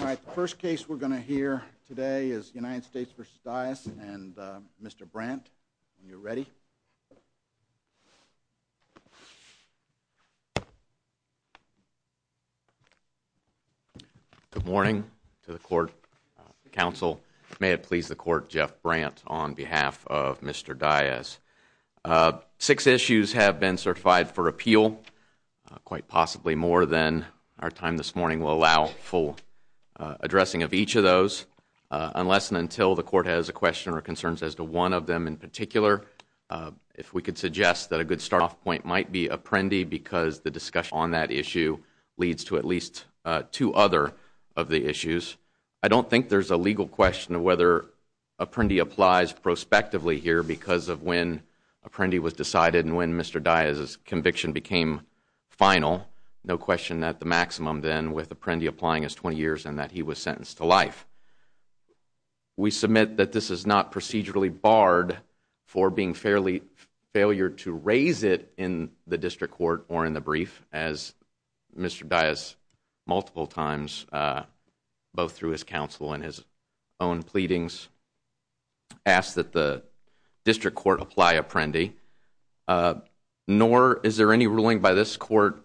The first case we're going to hear today is United States v. Dyess and Mr. Brandt. Are you ready? Good morning to the court, counsel. May it please the court, Jeff Brandt on behalf of Mr. Dyess. Six issues have been certified for appeal, quite possibly more than our time this morning will allow full addressing of each of those. Unless and until the court has a question or concerns as to one of them in particular, if we could suggest that a good start off point might be Apprendi because the discussion on that issue leads to at least two other of the issues. I don't think there's a legal question of whether Apprendi applies prospectively here because of when Apprendi was decided and when Mr. Dyess' conviction became final. No question that the maximum then with Apprendi applying is 20 years and that he was sentenced to life. We submit that this is not procedurally barred for being failure to raise it in the district court or in the brief as Mr. Dyess multiple times, both through his counsel and his own pleadings, asked that the district court apply Apprendi. Nor is there any ruling by this court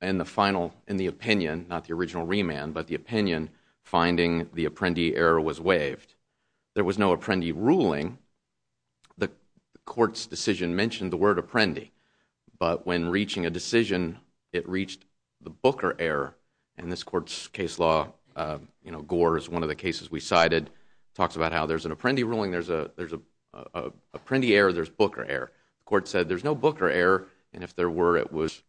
in the final, in the opinion, not the original remand, but the opinion finding the Apprendi error was waived. There was no Apprendi ruling. The court's decision mentioned the word Apprendi, but when reaching a decision, it reached the Booker error. In this court's case law, Gore is one of the cases we cited, talks about how there's an Apprendi ruling, there's an Apprendi error, there's Booker error. The court said there's no Booker error and if there were, it was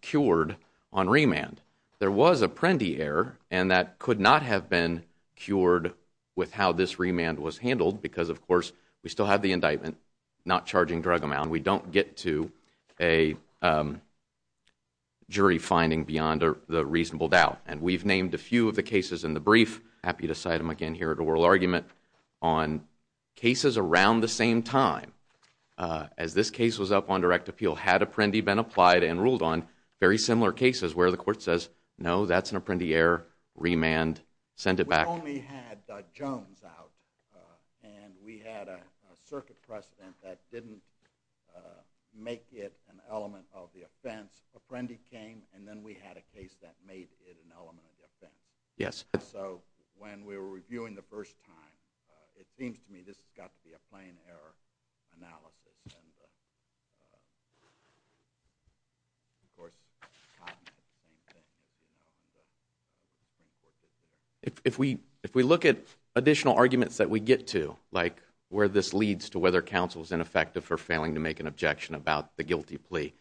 cured on remand. There was Apprendi error and that could not have been cured with how this remand was handled because of course, we still have the indictment, not charging drug amount. We don't get to a jury finding beyond the reasonable doubt and we've named a few of the cases in the brief, happy to cite them again here at oral argument on cases around the same time. As this case was up on direct appeal, had Apprendi been applied and ruled on, very similar cases where the court says, no, that's an Apprendi error, remand, send it back. We only had Jones out and we had a circuit precedent that didn't make it an element of the offense. Apprendi came and then we had a case that made it an element of the offense. Yes. So when we were reviewing the first time, it seems to me this has got to be a plain error analysis. If we look at additional arguments that we get to, like where this leads to whether counsel is ineffective for failing to make an objection about the guilty plea,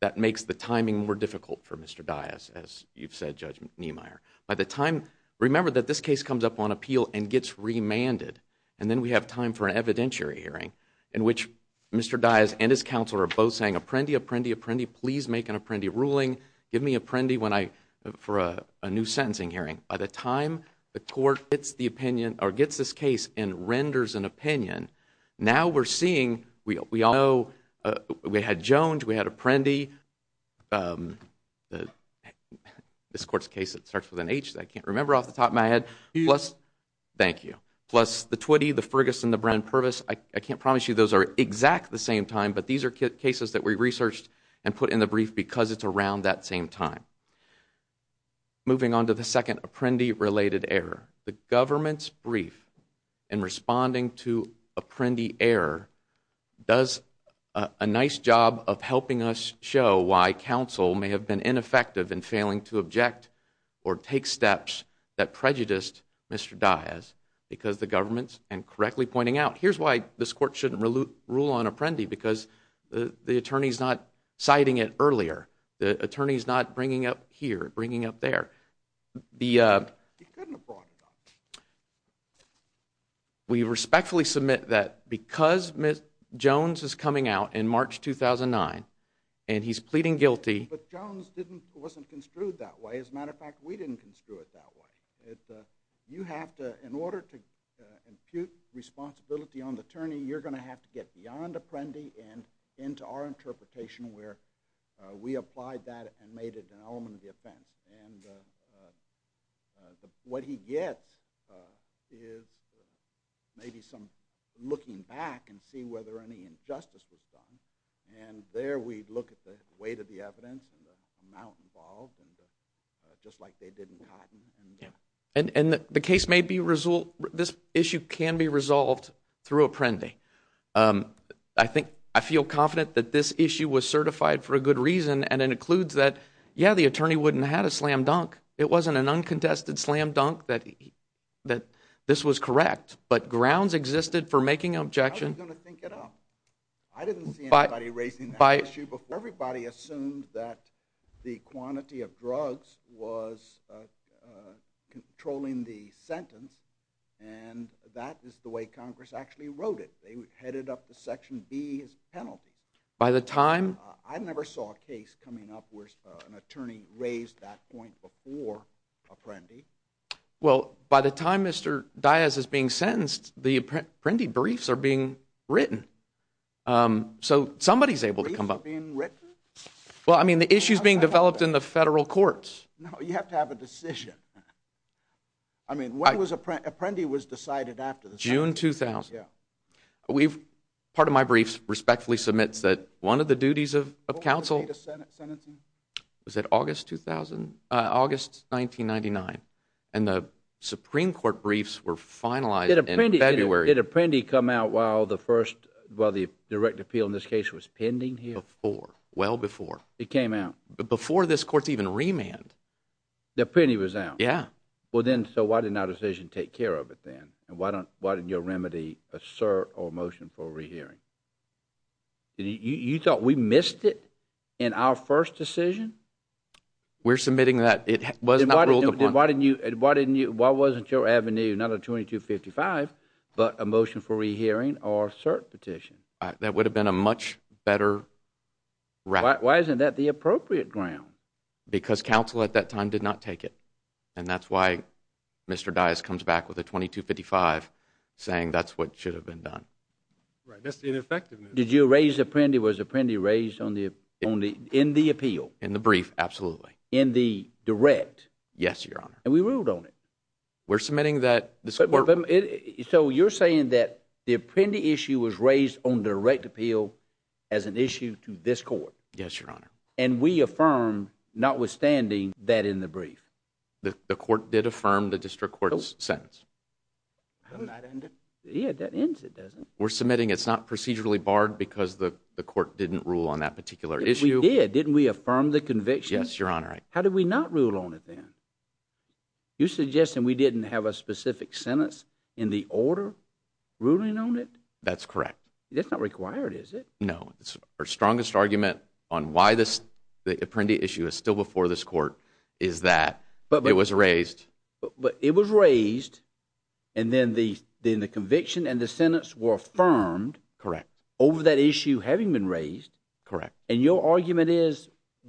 that makes the timing more difficult for Mr. Dias, as you've said, Judge Niemeyer. By the time, remember that this case comes up on appeal and gets remanded and then we have time for an evidentiary hearing in which Mr. Dias and his counsel are both saying, Apprendi, Apprendi, Apprendi, please make an Apprendi ruling. Give me Apprendi for a new sentencing hearing. By the time the court gets this case and renders an opinion, now we're seeing we all know we had Jones, we had Apprendi, this court's case starts with an H that I can't remember off the top of my head. Thank you. Plus the Twitty, the Ferguson, the Brown-Pervis. I can't promise you those are exact the same time, but these are cases that we researched and put in the brief because it's around that same time. Moving on to the second Apprendi-related error. The government's brief in responding to Apprendi error does a nice job of helping us show why counsel may have been ineffective in failing to object or take steps that prejudiced Mr. Dias because the government, and correctly pointing out, here's why this court shouldn't rule on Apprendi because the attorney's not citing it earlier. The attorney's not bringing up here, bringing up there. He couldn't have brought it up. We respectfully submit that because Ms. Jones is coming out in March 2009 and he's pleading guilty. But Jones wasn't construed that way. As a matter of fact, we didn't construe it that way. In order to impute responsibility on the attorney, you're going to have to get beyond Apprendi and into our interpretation where we applied that and made it an element of the offense. What he gets is maybe some looking back and see whether any injustice was done. There we look at the weight of the evidence and the amount involved just like they did in Cotton. The case may be resolved. This issue can be resolved through Apprendi. I feel confident that this issue was certified for a good reason and it includes that, yeah, the attorney wouldn't have had a slam dunk. It wasn't an uncontested slam dunk that this was correct. But grounds existed for making an objection. I didn't see anybody raising that issue before. Everybody assumed that the quantity of drugs was controlling the sentence and that is the way Congress actually wrote it. They headed up the Section B as a penalty. I never saw a case coming up where an attorney raised that point before Apprendi. Well, by the time Mr. Diaz is being sentenced, the Apprendi briefs are being written. So somebody is able to come up. Briefs are being written? Well, I mean, the issue is being developed in the federal courts. No, you have to have a decision. I mean, when was Apprendi was decided after the sentence? June 2000. Part of my briefs respectfully submits that one of the duties of counsel was that August 1999 and the Supreme Court briefs were finalized in February. Did Apprendi come out while the first, while the direct appeal in this case was pending here? Before, well before. It came out? Before this court's even remanded. The Apprendi was out? Yeah. Well then, so why didn't our decision take care of it then? And why didn't your remedy assert or motion for a rehearing? You thought we missed it in our first decision? We're submitting that it was not ruled upon. Then why didn't you, why wasn't your avenue not a 2255 but a motion for rehearing or assert petition? That would have been a much better route. Why isn't that the appropriate ground? Because counsel at that time did not take it. And that's why Mr. Dyess comes back with a 2255 saying that's what should have been done. Right, that's the ineffectiveness. Did you raise Apprendi, was Apprendi raised on the, in the appeal? In the brief, absolutely. In the direct? Yes, Your Honor. And we ruled on it. We're submitting that this court. So you're saying that the Apprendi issue was raised on direct appeal as an issue to this court? Yes, Your Honor. And we affirmed notwithstanding that in the brief? The court did affirm the district court's sentence. Doesn't that end it? Yeah, that ends it, doesn't it? We're submitting it's not procedurally barred because the court didn't rule on that particular issue. We did, didn't we affirm the conviction? Yes, Your Honor. How did we not rule on it then? You're suggesting we didn't have a specific sentence in the order ruling on it? That's correct. That's not required, is it? No. Our strongest argument on why the Apprendi issue is still before this court is that it was raised. But it was raised and then the conviction and the sentence were affirmed over that issue having been raised. Correct. And your argument is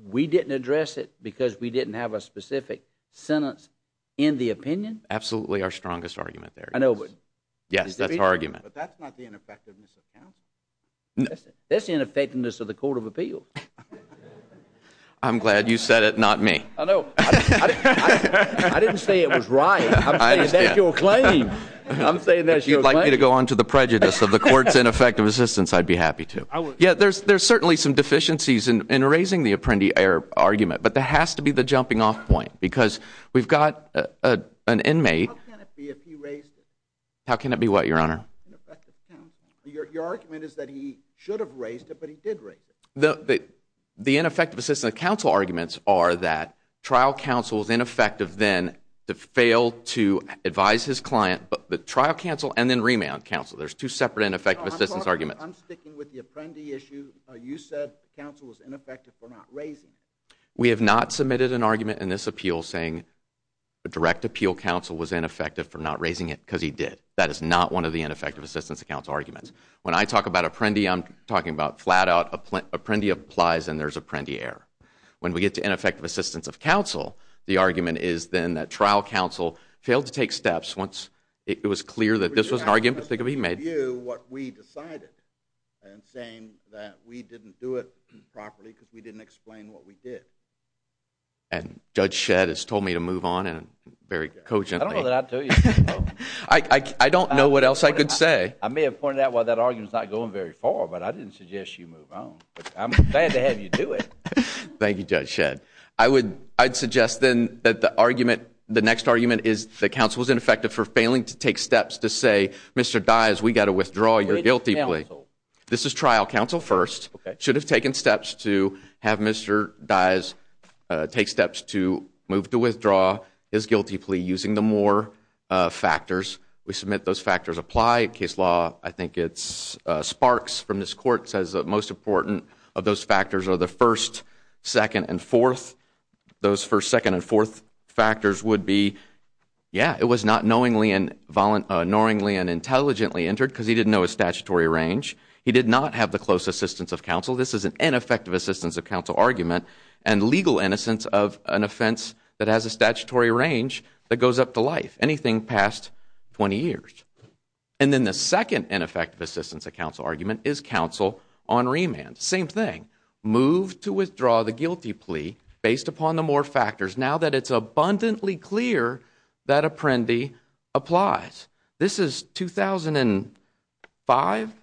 we didn't address it because we didn't have a specific sentence in the opinion? Absolutely our strongest argument there is. I know, but. Yes, that's our argument. But that's not the ineffectiveness of counsel. That's the ineffectiveness of the Court of Appeals. I'm glad you said it, not me. I know. I didn't say it was right. I'm saying that's your claim. I'm saying that's your claim. If you'd like me to go on to the prejudice of the court's ineffective assistance, I'd be happy to. Yeah, there's certainly some deficiencies in raising the Apprendi argument, but there has to be the jumping off point because we've got an inmate. How can it be if he raised it? How can it be what, Your Honor? Your argument is that he should have raised it, but he did raise it. The ineffective assistance of counsel arguments are that trial counsel is ineffective then to fail to advise his client. But the trial counsel and then remand counsel, there's two separate ineffective assistance arguments. I'm sticking with the Apprendi issue. You said counsel was ineffective for not raising it. We have not submitted an argument in this appeal saying direct appeal counsel was ineffective for not raising it because he did. That is not one of the ineffective assistance of counsel arguments. When I talk about Apprendi, I'm talking about flat out Apprendi applies and there's Apprendi error. When we get to ineffective assistance of counsel, the argument is then that trial counsel failed to take steps once it was clear that this was an argument that could be made. What we decided and saying that we didn't do it properly because we didn't explain what we did. And Judge Shedd has told me to move on very cogently. I don't know what else I could say. I may have pointed out why that argument is not going very far, but I didn't suggest you move on. I'm glad to have you do it. Thank you, Judge Shedd. I would suggest then that the argument, the next argument is that counsel is ineffective for failing to take steps to say, Mr. Dyes, we've got to withdraw your guilty plea. This is trial counsel first. Should have taken steps to have Mr. Dyes take steps to move to withdraw his guilty plea using the more factors. We submit those factors apply. Case law, I think it's Sparks from this court says that most important of those factors are the first, second, and fourth. Those first, second, and fourth factors would be, yeah, it was not knowingly and intelligently entered because he didn't know his statutory range. He did not have the close assistance of counsel. This is an ineffective assistance of counsel argument and legal innocence of an offense that has a statutory range that goes up to life. Anything past 20 years. And then the second ineffective assistance of counsel argument is counsel on remand. Same thing. Move to withdraw the guilty plea based upon the more factors now that it's abundantly clear that Apprendi applies. This is 2005?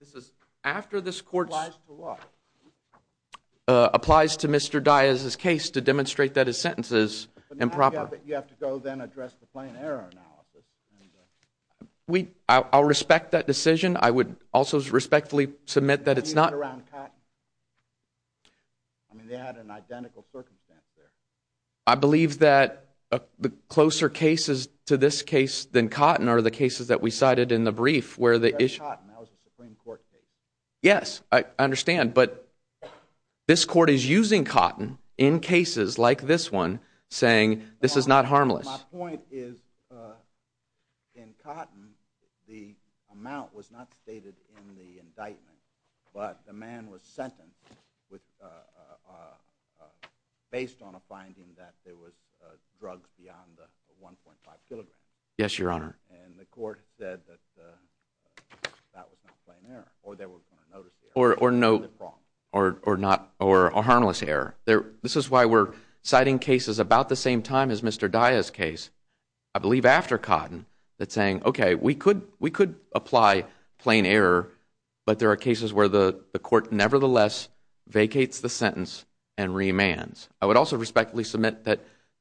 This is after this court applies to Mr. Dyes' case to demonstrate that his sentence is improper. You have to go then address the plain error analysis. I'll respect that decision. I would also respectfully submit that it's not. I mean, they had an identical circumstance there. I believe that the closer cases to this case than Cotton are the cases that we cited in the brief where the issue. That was a Supreme Court case. Yes, I understand. But this court is using Cotton in cases like this one saying this is not harmless. My point is in Cotton, the amount was not stated in the indictment. But the man was sentenced based on a finding that there was drugs beyond the 1.5 kilograms. Yes, Your Honor. And the court said that that was not plain error. Or they were going to notice the error. Or a harmless error. This is why we're citing cases about the same time as Mr. Dyes' case, I believe after Cotton, that's saying, okay, we could apply plain error, but there are cases where the court nevertheless vacates the sentence and remands. I would also respectfully submit that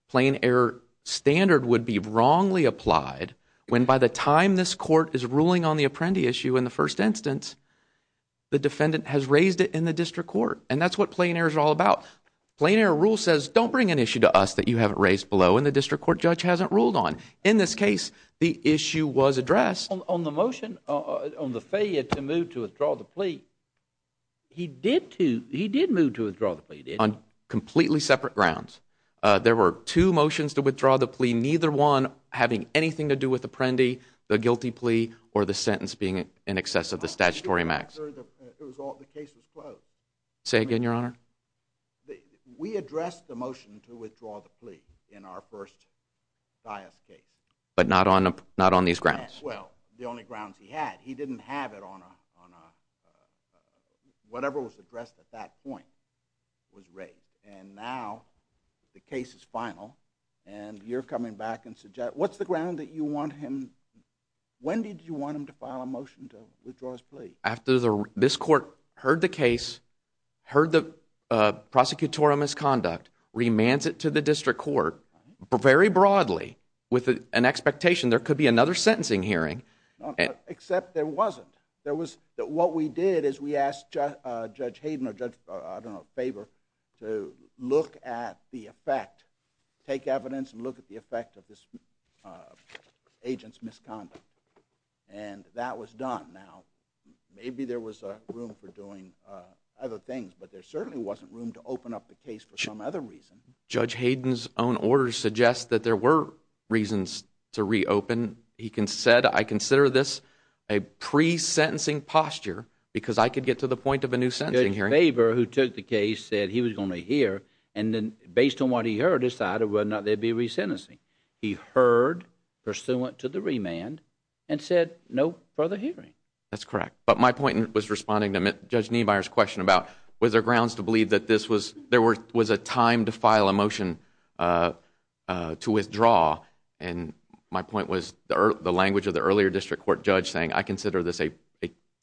plain error standard would be wrongly applied when by the time this court is ruling on the Apprendi issue in the first instance, the defendant has raised it in the district court. And that's what plain error is all about. Plain error rule says, don't bring an issue to us that you haven't raised below and the district court judge hasn't ruled on. In this case, the issue was addressed. On the motion, on the failure to move to withdraw the plea, he did move to withdraw the plea, did he? On completely separate grounds. There were two motions to withdraw the plea, neither one having anything to do with Apprendi, the guilty plea, or the sentence being in excess of the statutory max. The case was closed. Say again, Your Honor. We addressed the motion to withdraw the plea in our first Dyes' case. But not on these grounds. Well, the only grounds he had. He didn't have it on a, whatever was addressed at that point was raised. And now the case is final and you're coming back and suggesting, what's the ground that you want him, when did you want him to file a motion to withdraw his plea? After this court heard the case, heard the prosecutorial misconduct, remands it to the district court, very broadly, with an expectation there could be another sentencing hearing. Except there wasn't. What we did is we asked Judge Hayden or Judge Faber to look at the effect, take evidence and look at the effect of this agent's misconduct. And that was done. Now, maybe there was room for doing other things, but there certainly wasn't room to open up the case for some other reason. Judge Hayden's own order suggests that there were reasons to reopen. He said, I consider this a pre-sentencing posture, because I could get to the point of a new sentencing hearing. Judge Faber, who took the case, said he was going to hear, and then based on what he heard, decided whether or not there would be a resentencing. He heard, pursuant to the remand, and said, no further hearing. That's correct. But my point was responding to Judge Niebuyer's question about, was there grounds to believe that this was, there was a time to file a motion to withdraw, and my point was the language of the earlier district court judge saying, I consider this a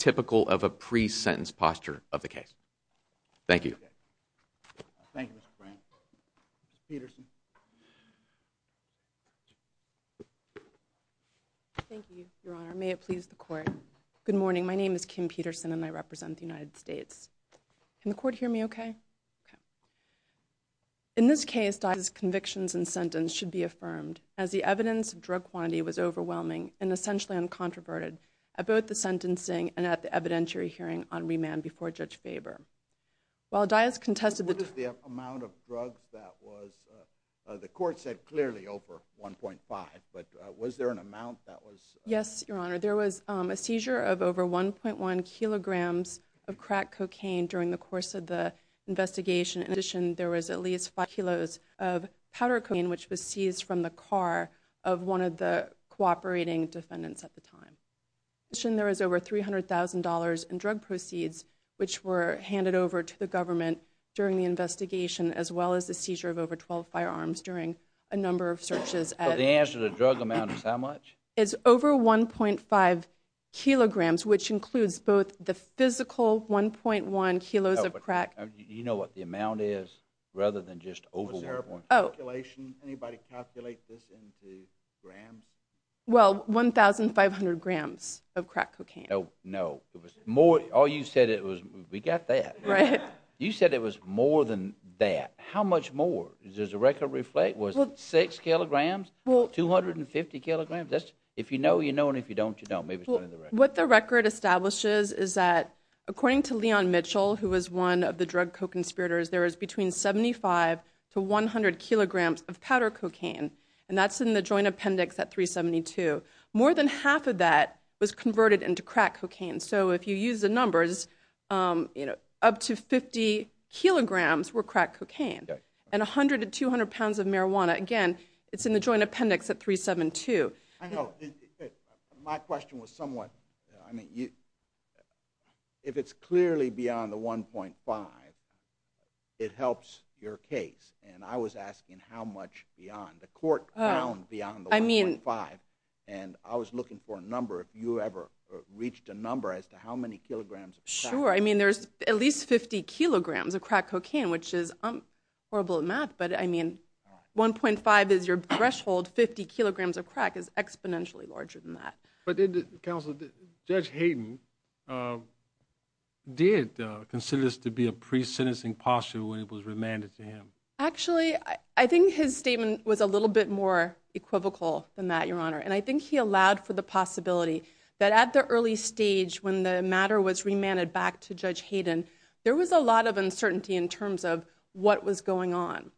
typical of a pre-sentence posture of the case. Thank you. Thank you, Mr. Frank. Mr. Peterson. Thank you, Your Honor. May it please the court. Good morning. My name is Kim Peterson, and I represent the United States. Can the court hear me okay? Okay. In this case, Dias' convictions and sentence should be affirmed, as the evidence of drug quantity was overwhelming and essentially uncontroverted at both the sentencing and at the evidentiary hearing on remand before Judge Faber. While Dias contested the- The court said clearly over 1.5, but was there an amount that was- Yes, Your Honor. There was a seizure of over 1.1 kilograms of crack cocaine during the course of the investigation. In addition, there was at least 5 kilos of powder cocaine, which was seized from the car of one of the cooperating defendants at the time. In addition, there was over $300,000 in drug proceeds, which were handed over to the government during the investigation, as well as the seizure of over 12 firearms during a number of searches at- The answer to the drug amount is how much? It's over 1.5 kilograms, which includes both the physical 1.1 kilos of crack- You know what the amount is, rather than just over 1.5? Was there a calculation? Anybody calculate this into grams? Well, 1,500 grams of crack cocaine. No, no. It was more- All you said, it was- We got that. Right. You said it was more than that. How much more? Does the record reflect? Was it 6 kilograms? 250 kilograms? If you know, you know, and if you don't, you don't. What the record establishes is that, according to Leon Mitchell, who was one of the drug co-conspirators, there was between 75 to 100 kilograms of powder cocaine, and that's in the joint appendix at 372. More than half of that was converted into crack cocaine. So if you use the numbers, up to 50 kilograms were crack cocaine, and 100 to 200 pounds of marijuana, again, it's in the joint appendix at 372. I know. My question was somewhat- I mean, if it's clearly beyond the 1.5, it helps your case, and I was asking how much beyond. The court found beyond the 1.5, and I was looking for a number. Have you ever reached a number as to how many kilograms of crack? Sure. I mean, there's at least 50 kilograms of crack cocaine, which is horrible at math, but, I mean, 1.5 is your threshold. Fifty kilograms of crack is exponentially larger than that. But did Judge Hayden consider this to be a pre-sentencing posture when it was remanded to him? Actually, I think his statement was a little bit more equivocal than that, Your Honor, and I think he allowed for the possibility that at the early stage, when the matter was remanded back to Judge Hayden, there was a lot of uncertainty in terms of what was going on.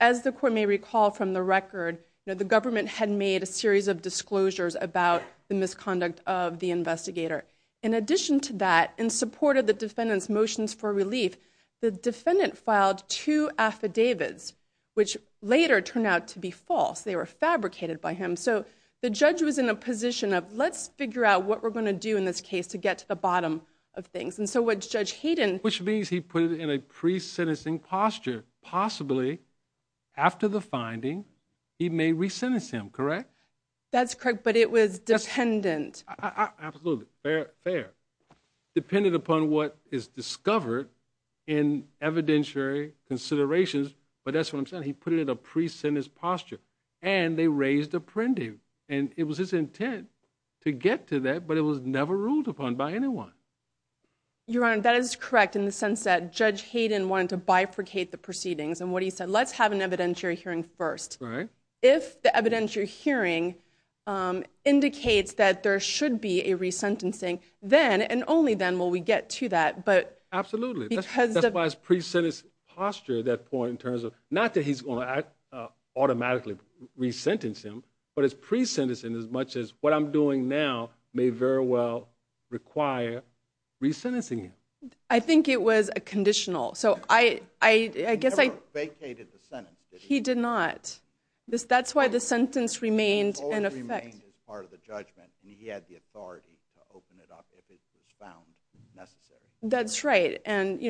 As the court may recall from the record, the government had made a series of disclosures about the misconduct of the investigator. In addition to that, in support of the defendant's motions for relief, the defendant filed two affidavits, which later turned out to be false. They were fabricated by him. So the judge was in a position of, let's figure out what we're going to do in this case to get to the bottom of things. And so what Judge Hayden... Which means he put it in a pre-sentencing posture. Possibly, after the finding, he may re-sentence him, correct? That's correct, but it was dependent. Absolutely, fair. Dependent upon what is discovered in evidentiary considerations, but that's what I'm saying. He put it in a pre-sentence posture, and they raised a prending. And it was his intent to get to that, but it was never ruled upon by anyone. Your Honor, that is correct in the sense that Judge Hayden wanted to bifurcate the proceedings. And what he said, let's have an evidentiary hearing first. Right. If the evidentiary hearing indicates that there should be a re-sentencing, then and only then will we get to that. Absolutely. That's why it's pre-sentence posture, that point, in terms of not that he's going to automatically re-sentence him, but it's pre-sentencing as much as what I'm doing now may very well require re-sentencing him. I think it was a conditional. He never vacated the sentence, did he? He did not. That's why the sentence remained in effect. It always remained as part of the judgment, and he had the authority to open it up if it was found necessary. That's right, and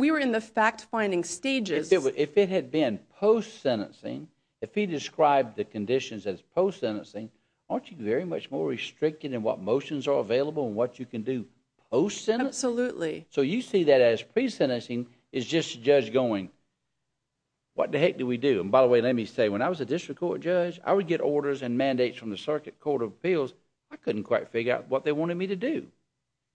we were in the fact-finding stages. If it had been post-sentencing, if he described the conditions as post-sentencing, aren't you very much more restricted in what motions are available and what you can do post-sentence? Absolutely. So you see that as pre-sentencing is just the judge going, what the heck did we do? And by the way, let me say, when I was a district court judge, I would get orders and mandates from the Circuit Court of Appeals. I couldn't quite figure out what they wanted me to do.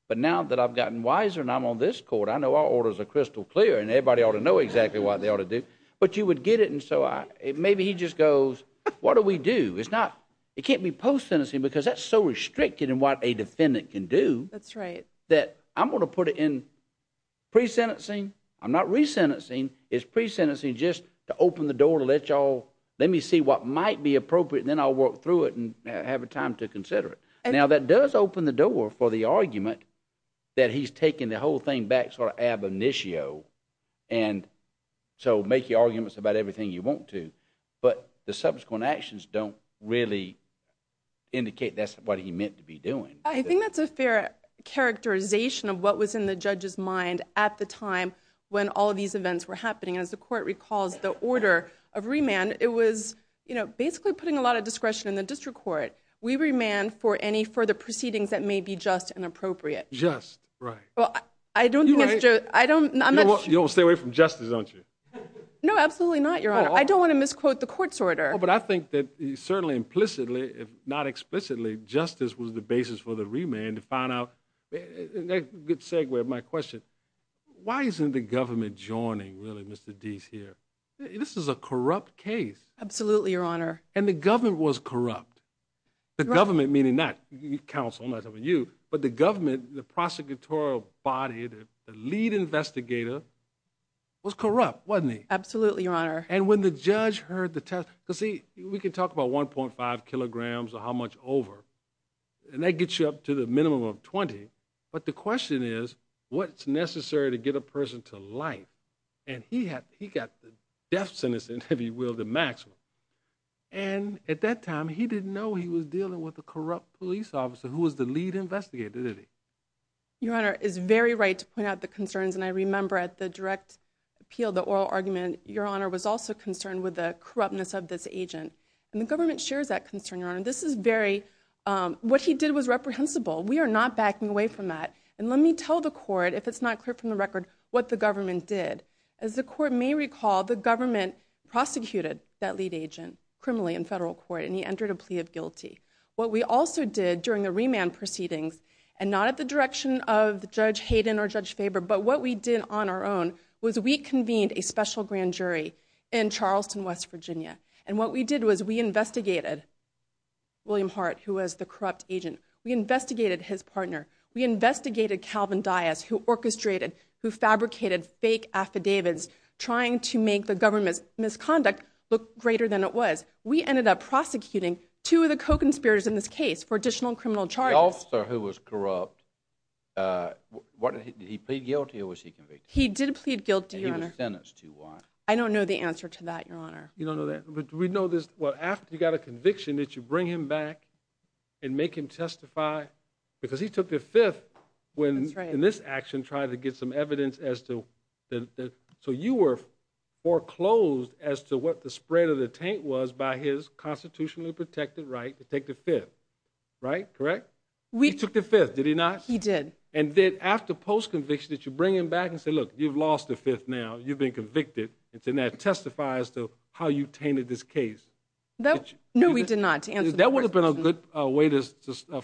But now that I've gotten wiser and I'm on this court, I know our orders are crystal clear, and everybody ought to know exactly what they ought to do. But you would get it, and so maybe he just goes, what do we do? It can't be post-sentencing because that's so restricted in what a defendant can do that I'm going to put it in pre-sentencing. I'm not re-sentencing. It's pre-sentencing just to open the door to let you all, let me see what might be appropriate, and then I'll work through it and have a time to consider it. Now, that does open the door for the argument that he's taking the whole thing back sort of ab initio and so make your arguments about everything you want to, but the subsequent actions don't really indicate that's what he meant to be doing. I think that's a fair characterization of what was in the judge's mind at the time when all of these events were happening. As the court recalls, the order of remand, it was basically putting a lot of discretion in the district court. We remand for any further proceedings that may be just and appropriate. Just, right. Well, I don't think it's just. You don't want to stay away from justice, don't you? No, absolutely not, Your Honor. I don't want to misquote the court's order. But I think that certainly implicitly, if not explicitly, justice was the basis for the remand to find out. A good segue to my question, why isn't the government joining really Mr. Deese here? This is a corrupt case. Absolutely, Your Honor. And the government was corrupt. The government meaning not counsel, I'm not talking about you, but the government, the prosecutorial body, the lead investigator, was corrupt, wasn't he? Absolutely, Your Honor. And when the judge heard the testimony, because, see, we can talk about 1.5 kilograms or how much over, and that gets you up to the minimum of 20, but the question is what's necessary to get a person to life? And he got the death sentence, if you will, the maximum. And at that time he didn't know he was dealing with a corrupt police officer who was the lead investigator, did he? Your Honor is very right to point out the concerns, and I remember at the direct appeal, the oral argument, Your Honor was also concerned with the corruptness of this agent. And the government shares that concern, Your Honor. This is very, what he did was reprehensible. We are not backing away from that. And let me tell the court, if it's not clear from the record, what the government did, as the court may recall, the government prosecuted that lead agent criminally in federal court, and he entered a plea of guilty. What we also did during the remand proceedings, and not at the direction of Judge Hayden or Judge Faber, but what we did on our own was we convened a special grand jury in Charleston, West Virginia, and what we did was we investigated William Hart, who was the corrupt agent. We investigated his partner. We investigated Calvin Dias, who orchestrated, who fabricated fake affidavits, trying to make the government's misconduct look greater than it was. We ended up prosecuting two of the co-conspirators in this case for additional criminal charges. The officer who was corrupt, did he plead guilty or was he convicted? He did plead guilty, Your Honor. And he was sentenced to what? I don't know the answer to that, Your Honor. You don't know that? We know this, well, after you got a conviction, did you bring him back and make him testify? Because he took the fifth when, in this action, tried to get some evidence as to, so you were foreclosed as to what the spread of the taint was by his constitutionally protected right to take the fifth, right? Correct? He took the fifth, did he not? He did. And then after post-conviction, did you bring him back and say, look, you've lost the fifth now, you've been convicted, and said now testify as to how you tainted this case? No, we did not. That would have been a good way to get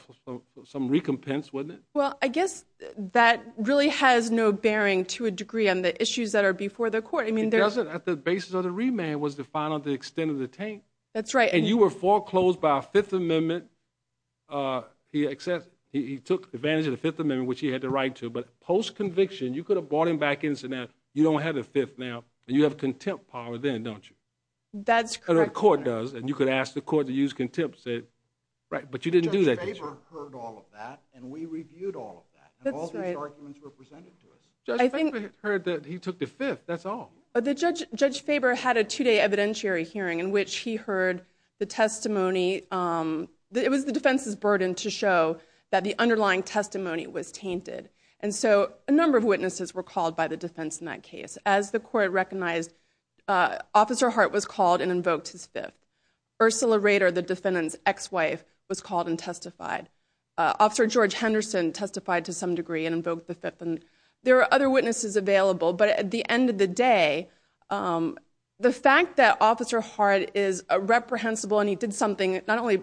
some recompense, wouldn't it? Well, I guess that really has no bearing to a degree on the issues that are before the court. It doesn't. At the basis of the remand was to find out the extent of the taint. That's right. And you were foreclosed by a Fifth Amendment. He took advantage of the Fifth Amendment, which he had the right to, but post-conviction, you could have brought him back and said, you don't have the fifth now, and you have contempt power then, don't you? That's correct, Your Honor. That's what the court does, and you could ask the court to use contempt to say, right, but you didn't do that. Judge Faber heard all of that, and we reviewed all of that, and all these arguments were presented to us. Judge Faber heard that he took the fifth, that's all. Judge Faber had a two-day evidentiary hearing in which he heard the testimony that it was the defense's burden to show that the underlying testimony was tainted. And so a number of witnesses were called by the defense in that case. As the court recognized, Officer Hart was called and invoked his fifth. Ursula Rader, the defendant's ex-wife, was called and testified. Officer George Henderson testified to some degree and invoked the fifth, and there are other witnesses available. But at the end of the day, the fact that Officer Hart is reprehensible and he did something not only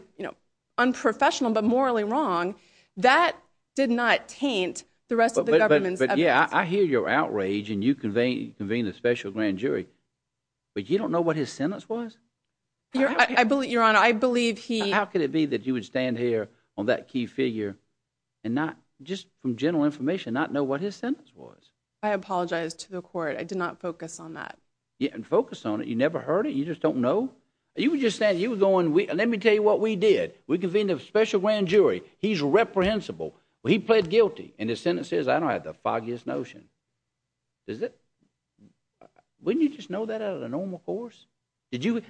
unprofessional but morally wrong, that did not taint the rest of the government's evidence. Yeah, I hear your outrage and you convened a special grand jury, but you don't know what his sentence was? Your Honor, I believe he – How could it be that you would stand here on that key figure and not, just from general information, not know what his sentence was? I apologize to the court. I did not focus on that. You didn't focus on it? You never heard it? You just don't know? You were just standing there, you were going, let me tell you what we did. We convened a special grand jury. He's reprehensible. He pled guilty. And his sentence says, I don't have the foggiest notion. Does it? Wouldn't you just know that out of the normal course? Did you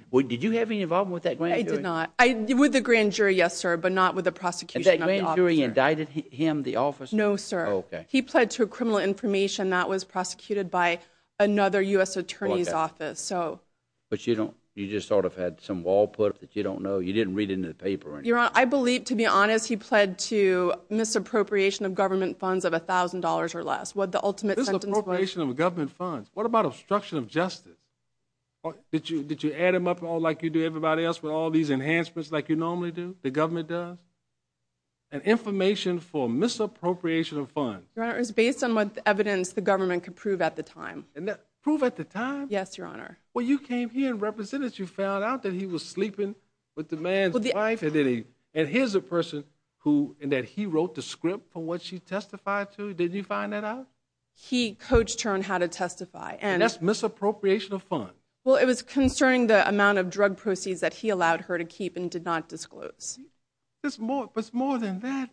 have any involvement with that grand jury? I did not. With the grand jury, yes, sir, but not with the prosecution of the officer. And that grand jury indicted him, the officer? No, sir. Okay. He pled to criminal information that was prosecuted by another U.S. attorney's office. But you just sort of had some wall put up that you don't know, you didn't read into the paper or anything? Your Honor, I believe, to be honest, he pled to misappropriation of government funds of $1,000 or less, what the ultimate sentence was. Misappropriation of government funds? What about obstruction of justice? Did you add them up like you do everybody else with all these enhancements like you normally do, the government does? And information for misappropriation of funds? Your Honor, it was based on what evidence the government could prove at the time. Prove at the time? Yes, Your Honor. Well, you came here and represented, you found out that he was sleeping with the man's wife, and here's a person that he wrote the script for what she testified to, did you find that out? He coached her on how to testify. And that's misappropriation of funds? Well, it was concerning the amount of drug proceeds that he allowed her to keep and did not disclose. But more than that,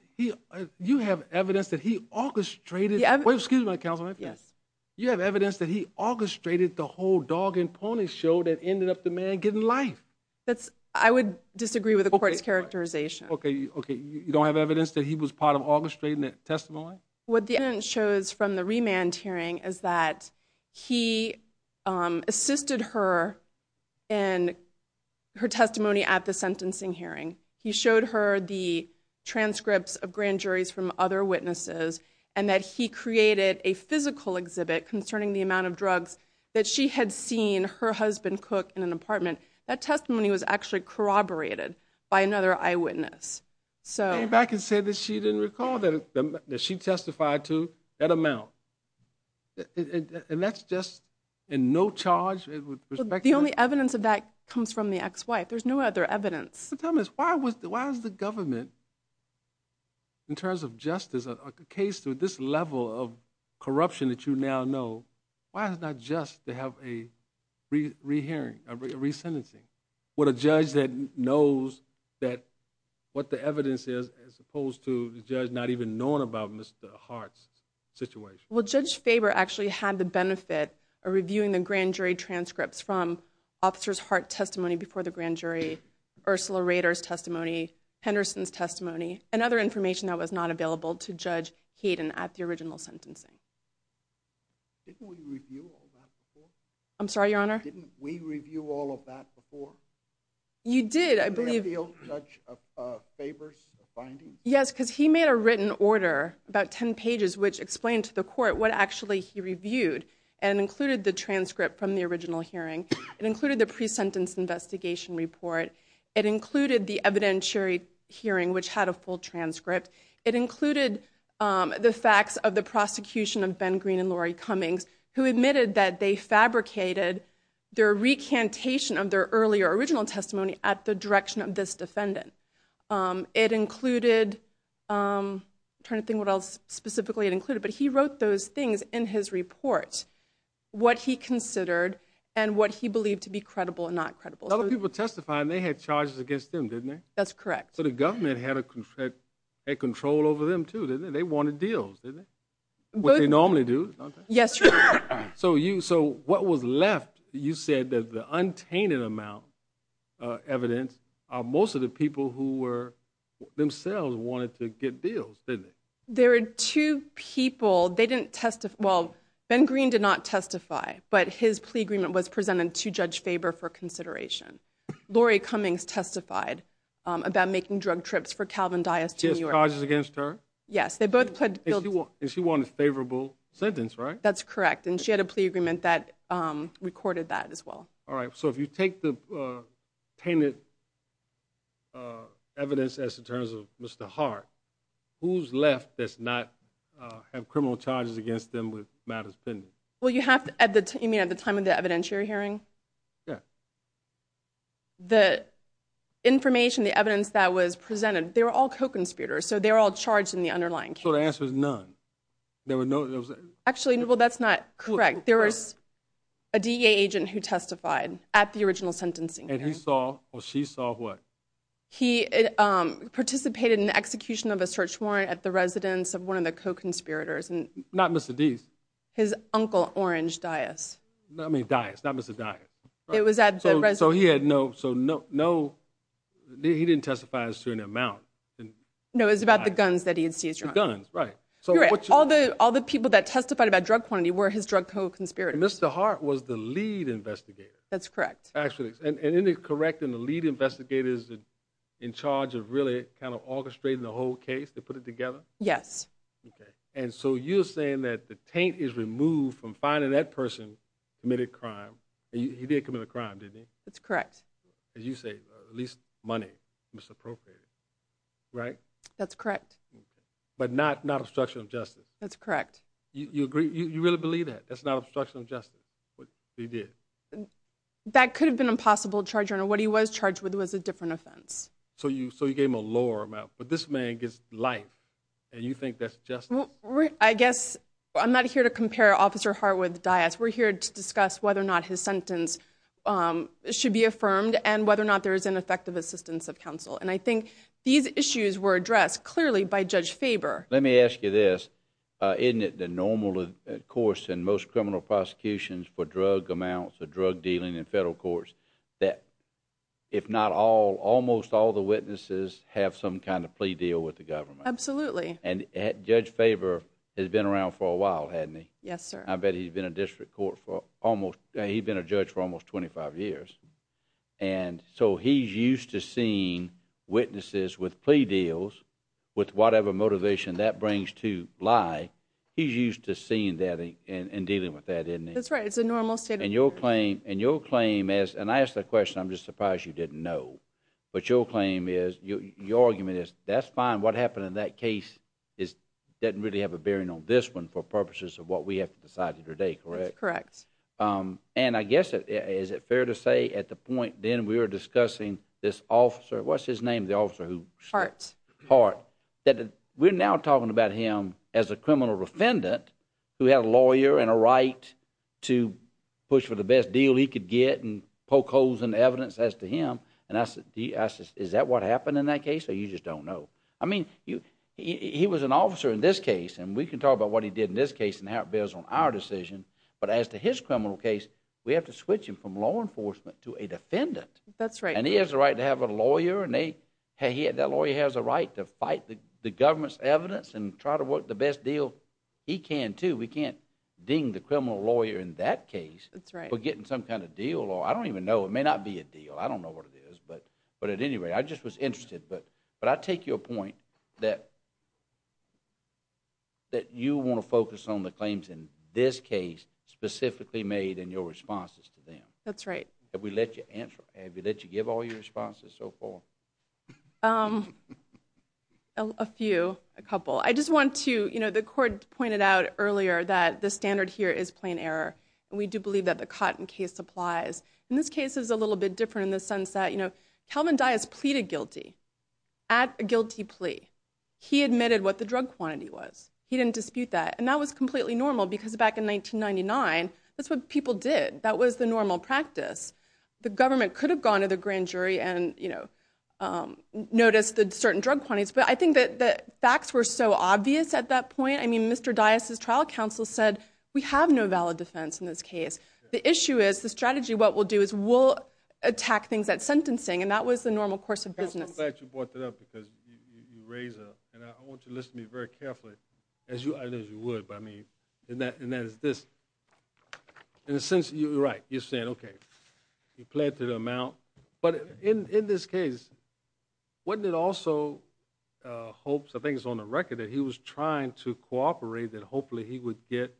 you have evidence that he orchestrated, excuse me, counsel, you have evidence that he orchestrated the whole dog and pony show that ended up the man getting life. I would disagree with the court's characterization. Okay, you don't have evidence that he was part of orchestrating that testimony? What the evidence shows from the remand hearing is that he assisted her in her testimony at the sentencing hearing. He showed her the transcripts of grand juries from other witnesses and that he created a physical exhibit concerning the amount of drugs that she had seen her husband cook in an apartment. That testimony was actually corroborated by another eyewitness. Came back and said that she didn't recall that she testified to that amount. And that's just in no charge? The only evidence of that comes from the ex-wife. There's no other evidence. Tell me this, why was the government, in terms of justice, a case to this level of corruption that you now know, why is it not just to have a rehearing, a resentencing, with a judge that knows what the evidence is as opposed to the judge not even knowing about Mr. Hart's situation? Well, Judge Faber actually had the benefit of reviewing the grand jury transcripts from Officer Hart's testimony before the grand jury, Ursula Rader's testimony, Henderson's testimony, and other information that was not available to Judge Hayden at the original sentencing. Didn't we review all that before? I'm sorry, Your Honor? Didn't we review all of that before? You did, I believe. Did they appeal Judge Faber's findings? Yes, because he made a written order, about 10 pages, which explained to the court what actually he reviewed and included the transcript from the original hearing. It included the pre-sentence investigation report. It included the evidentiary hearing, which had a full transcript. It included the facts of the prosecution of Ben Green and Lori Cummings, who admitted that they fabricated their recantation of their earlier original testimony at the direction of this defendant. It included, I'm trying to think what else specifically it included, but he wrote those things in his report, what he considered and what he believed to be credible and not credible. Other people testified, and they had charges against them, didn't they? That's correct. So the government had control over them too, didn't they? They wanted deals, didn't they? What they normally do. Yes, Your Honor. So what was left, you said that the untainted amount of evidence are most of the people who themselves wanted to get deals, didn't they? There are two people, they didn't testify, well, Ben Green did not testify, but his plea agreement was presented to Judge Faber for consideration. Lori Cummings testified about making drug trips for Calvin Dias to New York. She has charges against her? Yes, they both pled guilty. And she won a favorable sentence, right? That's correct, and she had a plea agreement that recorded that as well. All right, so if you take the tainted evidence as in terms of Mr. Hart, who's left that does not have criminal charges against them with matters pending? Well, you mean at the time of the evidentiary hearing? Yes. The information, the evidence that was presented, they were all co-conspirators, so they were all charged in the underlying case. So the answer is none? Actually, well, that's not correct. There was a DEA agent who testified at the original sentencing. And he saw or she saw what? He participated in the execution of a search warrant at the residence of one of the co-conspirators. Not Mr. Deese? His uncle, Orange Dias. I mean Dias, not Mr. Dias. It was at the residence. So he had no, he didn't testify as to an amount? No, it was about the guns that he had seized. The guns, right. All the people that testified about drug quantity were his drug co-conspirators. Mr. Hart was the lead investigator. That's correct. And isn't it correct in the lead investigator is in charge of really kind of orchestrating the whole case to put it together? Yes. And so you're saying that the taint is removed from finding that person committed a crime. He did commit a crime, didn't he? That's correct. As you say, at least money was appropriated, right? That's correct. But not obstruction of justice? That's correct. You agree, you really believe that? That's not obstruction of justice? But he did. That could have been a possible charge. What he was charged with was a different offense. So you gave him a lower amount. But this man gets life, and you think that's justice? I guess I'm not here to compare Officer Hart with Dias. We're here to discuss whether or not his sentence should be affirmed and whether or not there is an effective assistance of counsel. And I think these issues were addressed clearly by Judge Faber. Let me ask you this. Isn't it the normal course in most criminal prosecutions for drug amounts or drug dealing in federal courts that if not all, almost all the witnesses have some kind of plea deal with the government? Absolutely. And Judge Faber has been around for a while, hasn't he? Yes, sir. I bet he's been a district court for almost, he's been a judge for almost 25 years. And so he's used to seeing witnesses with plea deals with whatever motivation that brings to lie. He's used to seeing that and dealing with that, isn't he? That's right. It's a normal state of affairs. And your claim is, and I asked that question, I'm just surprised you didn't know. But your claim is, your argument is, that's fine. What happened in that case doesn't really have a bearing on this one for purposes of what we have to decide today, correct? That's correct. And I guess is it fair to say at the point then we were discussing this officer, what's his name, the officer who shot Hart, that we're now talking about him as a criminal defendant who had a lawyer and a right to push for the best deal he could get and poke holes in evidence as to him. And I said, is that what happened in that case? Or you just don't know? I mean, he was an officer in this case, and we can talk about what he did in this case and how it bears on our decision. But as to his criminal case, we have to switch him from law enforcement to a defendant. That's right. And he has a right to have a lawyer, and that lawyer has a right to fight the government's evidence and try to work the best deal he can too. We can't ding the criminal lawyer in that case for getting some kind of deal. I don't even know. It may not be a deal. I don't know what it is. But at any rate, I just was interested. But I take your point that you want to focus on the claims in this case specifically made in your responses to them. That's right. Have we let you give all your responses so far? A few, a couple. I just want to, you know, the court pointed out earlier that the standard here is plain error. And we do believe that the Cotton case applies. And this case is a little bit different in the sense that, you know, Calvin Dias pleaded guilty at a guilty plea. He admitted what the drug quantity was. He didn't dispute that. And that was completely normal because back in 1999, that's what people did. That was the normal practice. The government could have gone to the grand jury and, you know, noticed the certain drug quantities. But I think that the facts were so obvious at that point. I mean, Mr. Dias' trial counsel said, we have no valid defense in this case. The issue is, the strategy, what we'll do, is we'll attack things at sentencing. And that was the normal course of business. I'm glad you brought that up because you raise a, and I want you to listen to me very carefully. I know you would, but I mean, and that is this. In a sense, you're right. You're saying, okay, he pled to the amount. But in this case, wasn't it also hopes, I think it's on the record, that he was trying to cooperate that hopefully he would get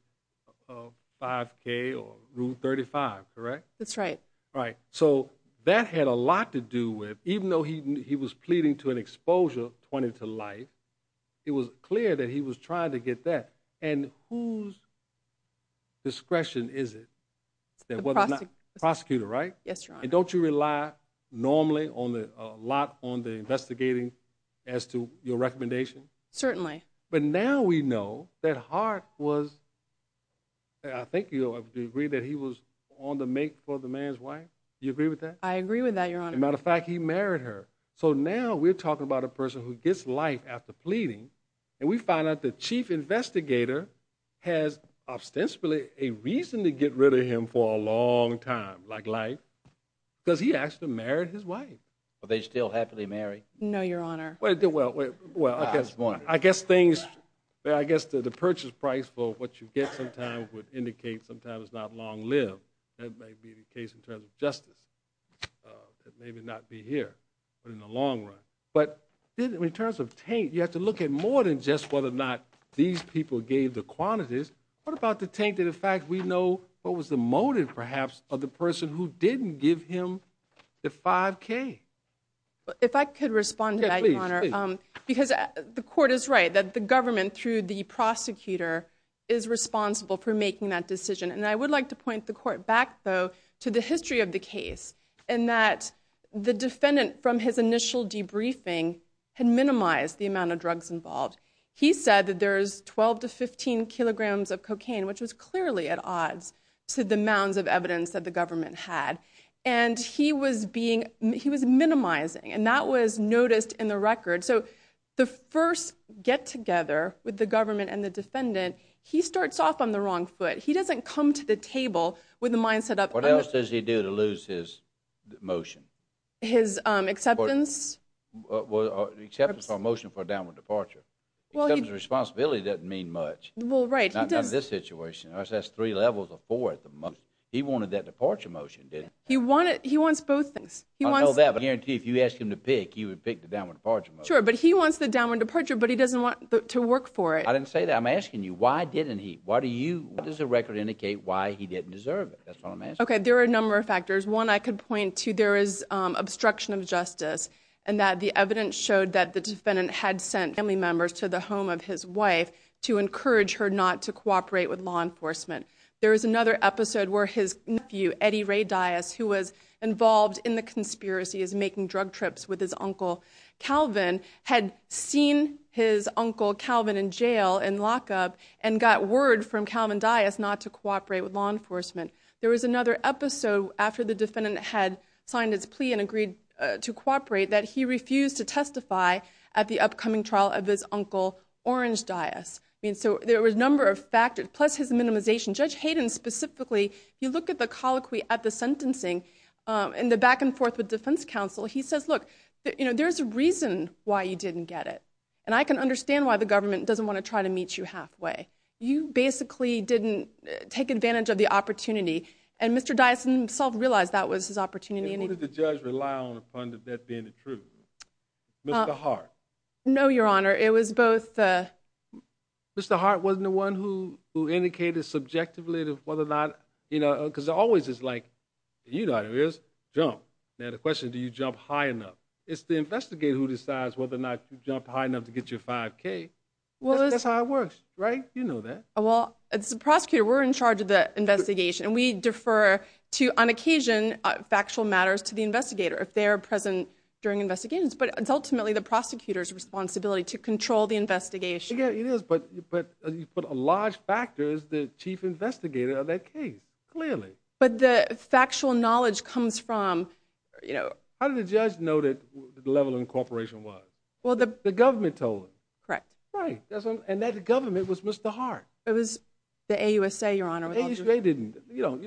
5K or Rule 35, correct? That's right. Right. So that had a lot to do with, even though he was pleading to an exposure pointed to life, it was clear that he was trying to get that. And whose discretion is it? The prosecutor. Prosecutor, right? Yes, Your Honor. And don't you rely normally a lot on the investigating as to your recommendation? Certainly. But now we know that Hart was, I think you'll agree that he was on the make for the man's wife. Do you agree with that? I agree with that, Your Honor. Matter of fact, he married her. So now we're talking about a person who gets life after pleading, and we find out the chief investigator has ostensibly a reason to get rid of him for a long time, like life, because he actually married his wife. Are they still happily married? No, Your Honor. Well, I guess one. I guess the purchase price for what you get sometimes would indicate sometimes not long-lived. That may be the case in terms of justice. It may not be here, but in the long run. But in terms of taint, you have to look at more than just whether or not these people gave the quantities. What about the taint of the fact we know what was the motive, perhaps, of the person who didn't give him the 5K? If I could respond to that, Your Honor, because the court is right that the government, through the prosecutor, is responsible for making that decision. And I would like to point the court back, though, to the history of the case, in that the defendant, from his initial debriefing, had minimized the amount of drugs involved. He said that there's 12 to 15 kilograms of cocaine, which was clearly at odds to the mounds of evidence that the government had. And he was minimizing, and that was noticed in the record. So the first get-together with the government and the defendant, he starts off on the wrong foot. He doesn't come to the table with a mindset of... What else does he do to lose his motion? His acceptance? Acceptance or motion for a downward departure. Acceptance of responsibility doesn't mean much. Well, right. Not in this situation. That's three levels of four at the most. He wanted that departure motion, didn't he? He wants both things. I know that, but I guarantee if you ask him to pick, he would pick the downward departure motion. Sure, but he wants the downward departure, but he doesn't want to work for it. I didn't say that. I'm asking you, why didn't he? Why do you... Does the record indicate why he didn't deserve it? That's all I'm asking. Okay, there are a number of factors. One, I could point to there is obstruction of justice and that the evidence showed that the defendant had sent family members to the home of his wife to encourage her not to cooperate with law enforcement. There is another episode where his nephew, Eddie Ray Dias, who was involved in the conspiracy of making drug trips with his uncle Calvin, had seen his uncle Calvin in jail, in lockup, and got word from Calvin Dias not to cooperate with law enforcement. There was another episode after the defendant had signed his plea and agreed to cooperate that he refused to testify at the upcoming trial of his uncle, Orange Dias. I mean, so there were a number of factors, plus his minimization. Judge Hayden, specifically, you look at the colloquy at the sentencing and the back and forth with defense counsel. He says, look, there's a reason why you didn't get it, and I can understand why the government doesn't want to try to meet you halfway. You basically didn't take advantage of the opportunity, and Mr. Dias himself realized that was his opportunity. And what did the judge rely upon that being the truth? Mr. Hart? No, Your Honor, it was both... Mr. Hart wasn't the one who indicated subjectively whether or not... You know, because it always is like, you know how it is, jump. Now the question is, do you jump high enough? It's the investigator who decides whether or not you jumped high enough to get your 5K. That's how it works, right? You know that. Well, it's the prosecutor. We're in charge of the investigation, and we defer to, on occasion, factual matters to the investigator if they are present during investigations, but it's ultimately the prosecutor's responsibility to control the investigation. Yeah, it is, but a large factor is the chief investigator of that case, clearly. But the factual knowledge comes from, you know... How did the judge know what the level of incorporation was? Well, the... The government told him. Correct. Right, and that government was Mr. Hart. It was the AUSA, Your Honor. The AUSA didn't... You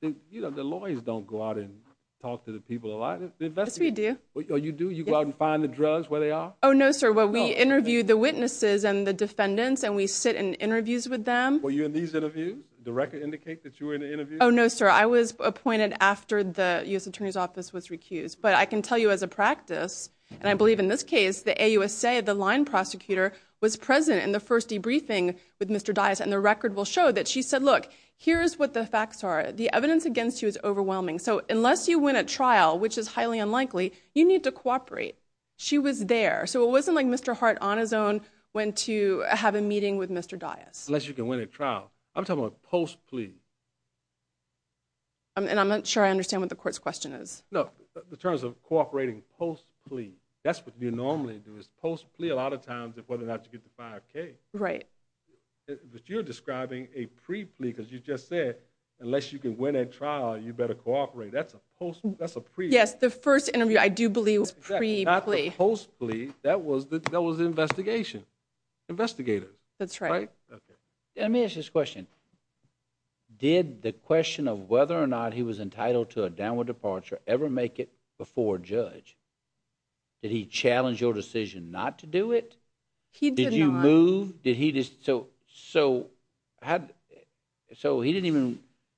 know, the lawyers don't go out and talk to the people a lot. Yes, we do. Oh, you do? You go out and find the drugs where they are? Oh, no, sir. Well, we interview the witnesses and the defendants, and we sit in interviews with them. Were you in these interviews? Did the record indicate that you were in an interview? Oh, no, sir. I was appointed after the U.S. Attorney's Office was recused. But I can tell you as a practice, and I believe in this case, the AUSA, the line prosecutor, was present in the first debriefing with Mr. Dias, and the record will show that she said, look, here's what the facts are. The evidence against you is overwhelming. So unless you win a trial, which is highly unlikely, you need to cooperate. She was there. So it wasn't like Mr. Hart, on his own, went to have a meeting with Mr. Dias. Unless you can win a trial. I'm talking about post-plea. And I'm not sure I understand what the court's question is. No, in terms of cooperating post-plea, that's what you normally do, is post-plea. A lot of times, it's whether or not you get the 5K. Right. But you're describing a pre-plea, because you just said, unless you can win a trial, you better cooperate. That's a pre-plea. Yes, the first interview, I do believe, was pre-plea. Not the post-plea. That was the investigation. Investigators. That's right. Right? Let me ask you this question. Did the question of whether or not he was entitled to a downward departure ever make it before a judge? Did he challenge your decision not to do it? He did not. Did you move? So he didn't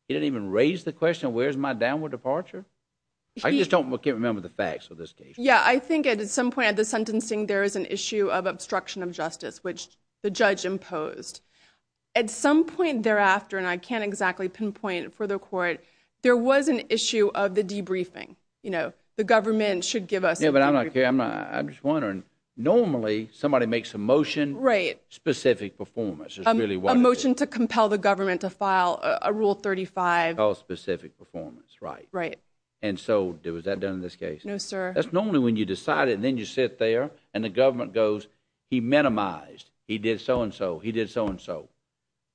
even raise the question, where's my downward departure? I just can't remember the facts of this case. Yeah, I think at some point of the sentencing, there is an issue of obstruction of justice, which the judge imposed. At some point thereafter, and I can't exactly pinpoint it for the court, there was an issue of the debriefing. The government should give us a debriefing. Yeah, but I'm just wondering, normally, somebody makes a motion. Right. Specific performance is really what it is. A motion to compel the government to file a Rule 35. It's called specific performance. Right. Right. And so, was that done in this case? No, sir. That's normally when you decide it, and then you sit there, and the government goes, he minimized, he did so and so, he did so and so.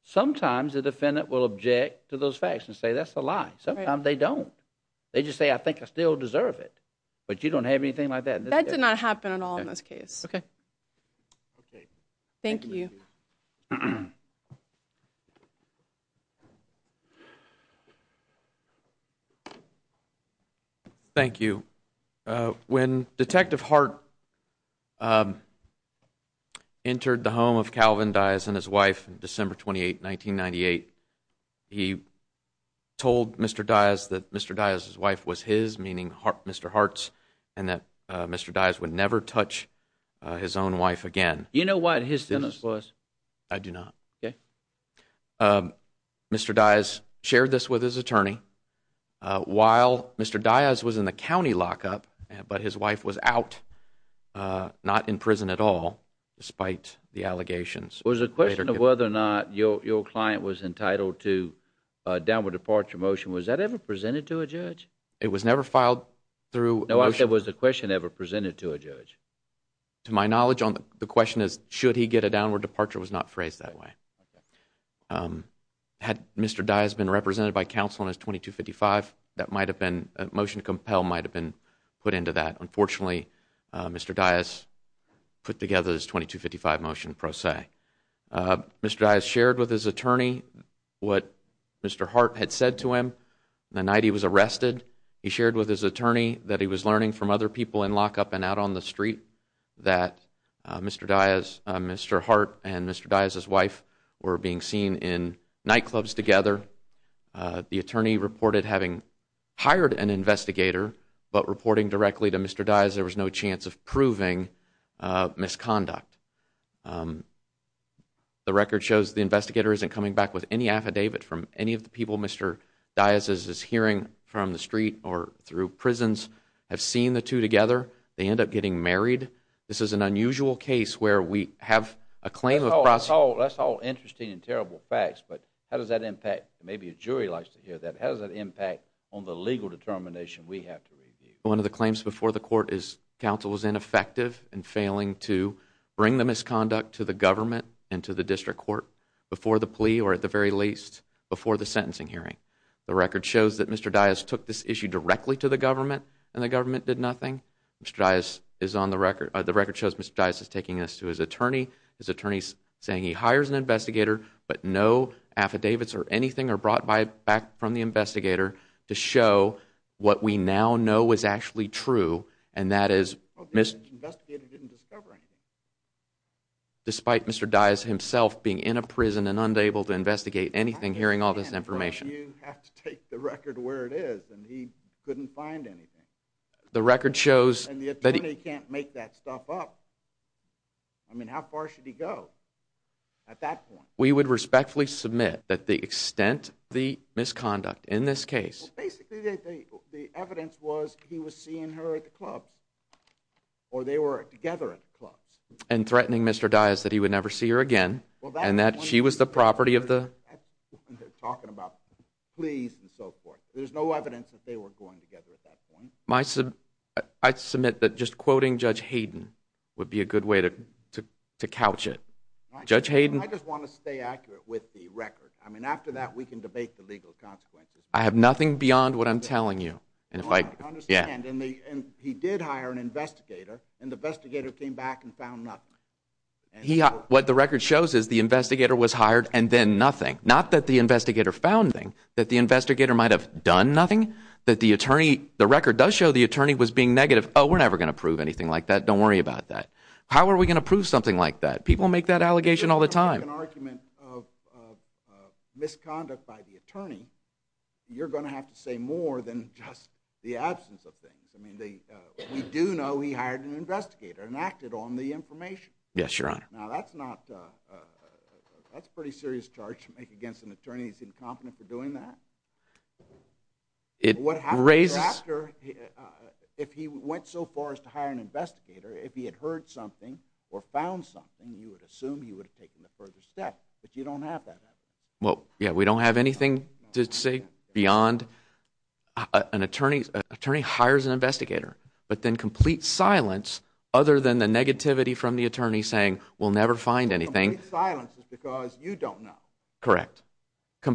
Sometimes the defendant will object to those facts and say, that's a lie. Sometimes they don't. They just say, I think I still deserve it. But you don't have anything like that. That did not happen at all in this case. Okay. Okay. Thank you. Thank you. When Detective Hart entered the home of Calvin Dyess and his wife on December 28, 1998, he told Mr. Dyess that Mr. Dyess' wife was his, meaning Mr. Hart's, and that Mr. Dyess would never touch his own wife again. You know what his sentence was? I do not. Okay. Mr. Dyess shared this with his attorney. While Mr. Dyess was in the county lockup, but his wife was out, not in prison at all, despite the allegations. Was the question of whether or not your client was entitled to a downward departure motion, was that ever presented to a judge? It was never filed through a motion. No, I said was the question ever presented to a judge? To my knowledge, the question is should he get a downward departure was not phrased that way. Had Mr. Dyess been represented by counsel in his 2255, that might have been, a motion to compel might have been put into that. Unfortunately, Mr. Dyess put together his 2255 motion pro se. Mr. Dyess shared with his attorney what Mr. Hart had said to him the night he was arrested. He shared with his attorney that he was learning from other people in lockup and out on the street that Mr. Hart and Mr. Dyess' wife were being seen in nightclubs together. The attorney reported having hired an investigator, but reporting directly to Mr. Dyess, there was no chance of proving misconduct. The record shows the investigator isn't coming back with any affidavit from any of the people Mr. Dyess is hearing from the street or through prisons have seen the two together. They end up getting married. This is an unusual case where we have a claim of... That's all interesting and terrible facts, but how does that impact, maybe a jury likes to hear that, how does that impact on the legal determination we have to review? One of the claims before the court is counsel was ineffective in failing to bring the misconduct to the government and to the district court before the plea or at the very least before the sentencing hearing. The record shows that Mr. Dyess took this issue directly to the government and the government did nothing. Mr. Dyess is on the record. The record shows Mr. Dyess is taking this to his attorney. His attorney is saying he hires an investigator, but no affidavits or anything are brought back from the investigator to show what we now know is actually true and that is... The investigator didn't discover anything. Despite Mr. Dyess himself being in a prison and unable to investigate anything hearing all this information. You have to take the record where it is and he couldn't find anything. The record shows... And the attorney can't make that stuff up. I mean, how far should he go at that point? We would respectfully submit that the extent of the misconduct in this case... Basically, the evidence was he was seeing her at the clubs or they were together at the clubs. And threatening Mr. Dyess that he would never see her again and that she was the property of the... They're talking about pleas and so forth. There's no evidence that they were going together at that point. I submit that just quoting Judge Hayden would be a good way to couch it. Judge Hayden... I just want to stay accurate with the record. I mean, after that we can debate the legal consequences. I have nothing beyond what I'm telling you. I understand. And he did hire an investigator and the investigator came back and found nothing. What the record shows is the investigator was hired and then nothing. Not that the investigator found anything, that the investigator might have done nothing, that the record does show the attorney was being negative. Oh, we're never going to prove anything like that. Don't worry about that. How are we going to prove something like that? People make that allegation all the time. If you're going to make an argument of misconduct by the attorney, you're going to have to say more than just the absence of things. I mean, we do know he hired an investigator and acted on the information. Yes, Your Honor. Now, that's a pretty serious charge to make against an attorney when he's incompetent for doing that. What happens after, if he went so far as to hire an investigator, if he had heard something or found something, you would assume he would have taken the further step, but you don't have that evidence. Well, yeah, we don't have anything to say beyond an attorney hires an investigator, but then complete silence, other than the negativity from the attorney saying, we'll never find anything. Complete silence is because you don't know. Correct.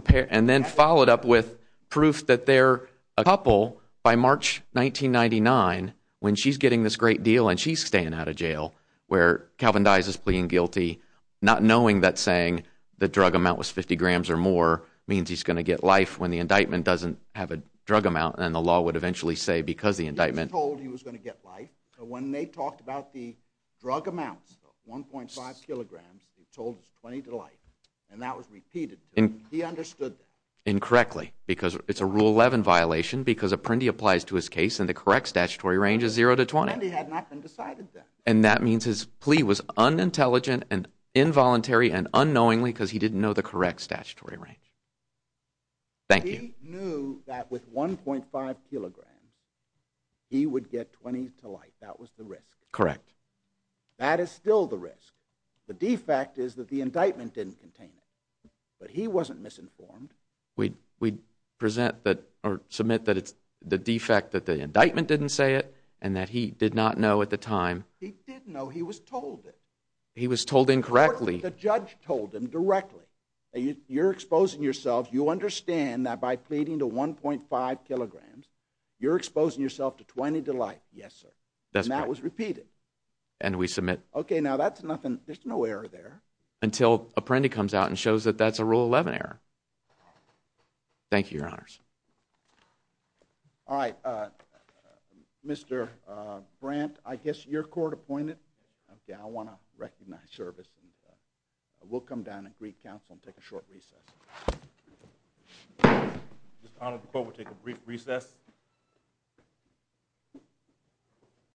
And then followed up with proof that they're a couple by March 1999, when she's getting this great deal and she's staying out of jail, where Calvin dies as pleading guilty, not knowing that saying the drug amount was 50 grams or more means he's going to get life when the indictment doesn't have a drug amount, and the law would eventually say because the indictment... He was told he was going to get life, but when they talked about the drug amounts, 1.5 kilograms, he was told it was 20 to life, and that was repeated. He understood that. Incorrectly, because it's a Rule 11 violation because Apprendi applies to his case and the correct statutory range is 0 to 20. Apprendi had not been decided then. And that means his plea was unintelligent and involuntary and unknowingly because he didn't know the correct statutory range. Thank you. He knew that with 1.5 kilograms, he would get 20 to life. That was the risk. Correct. That is still the risk. The defect is that the indictment didn't contain it, but he wasn't misinformed. We present that... or submit that it's the defect that the indictment didn't say it and that he did not know at the time. He did know. He was told it. He was told incorrectly. The judge told him directly. You're exposing yourself. You understand that by pleading to 1.5 kilograms, you're exposing yourself to 20 to life. Yes, sir. That's correct. And that was repeated. And we submit... Okay, now that's nothing. There's no error there. Until Apprendi comes out and shows that that's a Rule 11 error. Thank you, Your Honors. All right. Mr. Brandt, I guess you're court-appointed. Okay, I want to recognize service. We'll come down and greet counsel and take a short recess. Mr. Connell, the court will take a brief recess.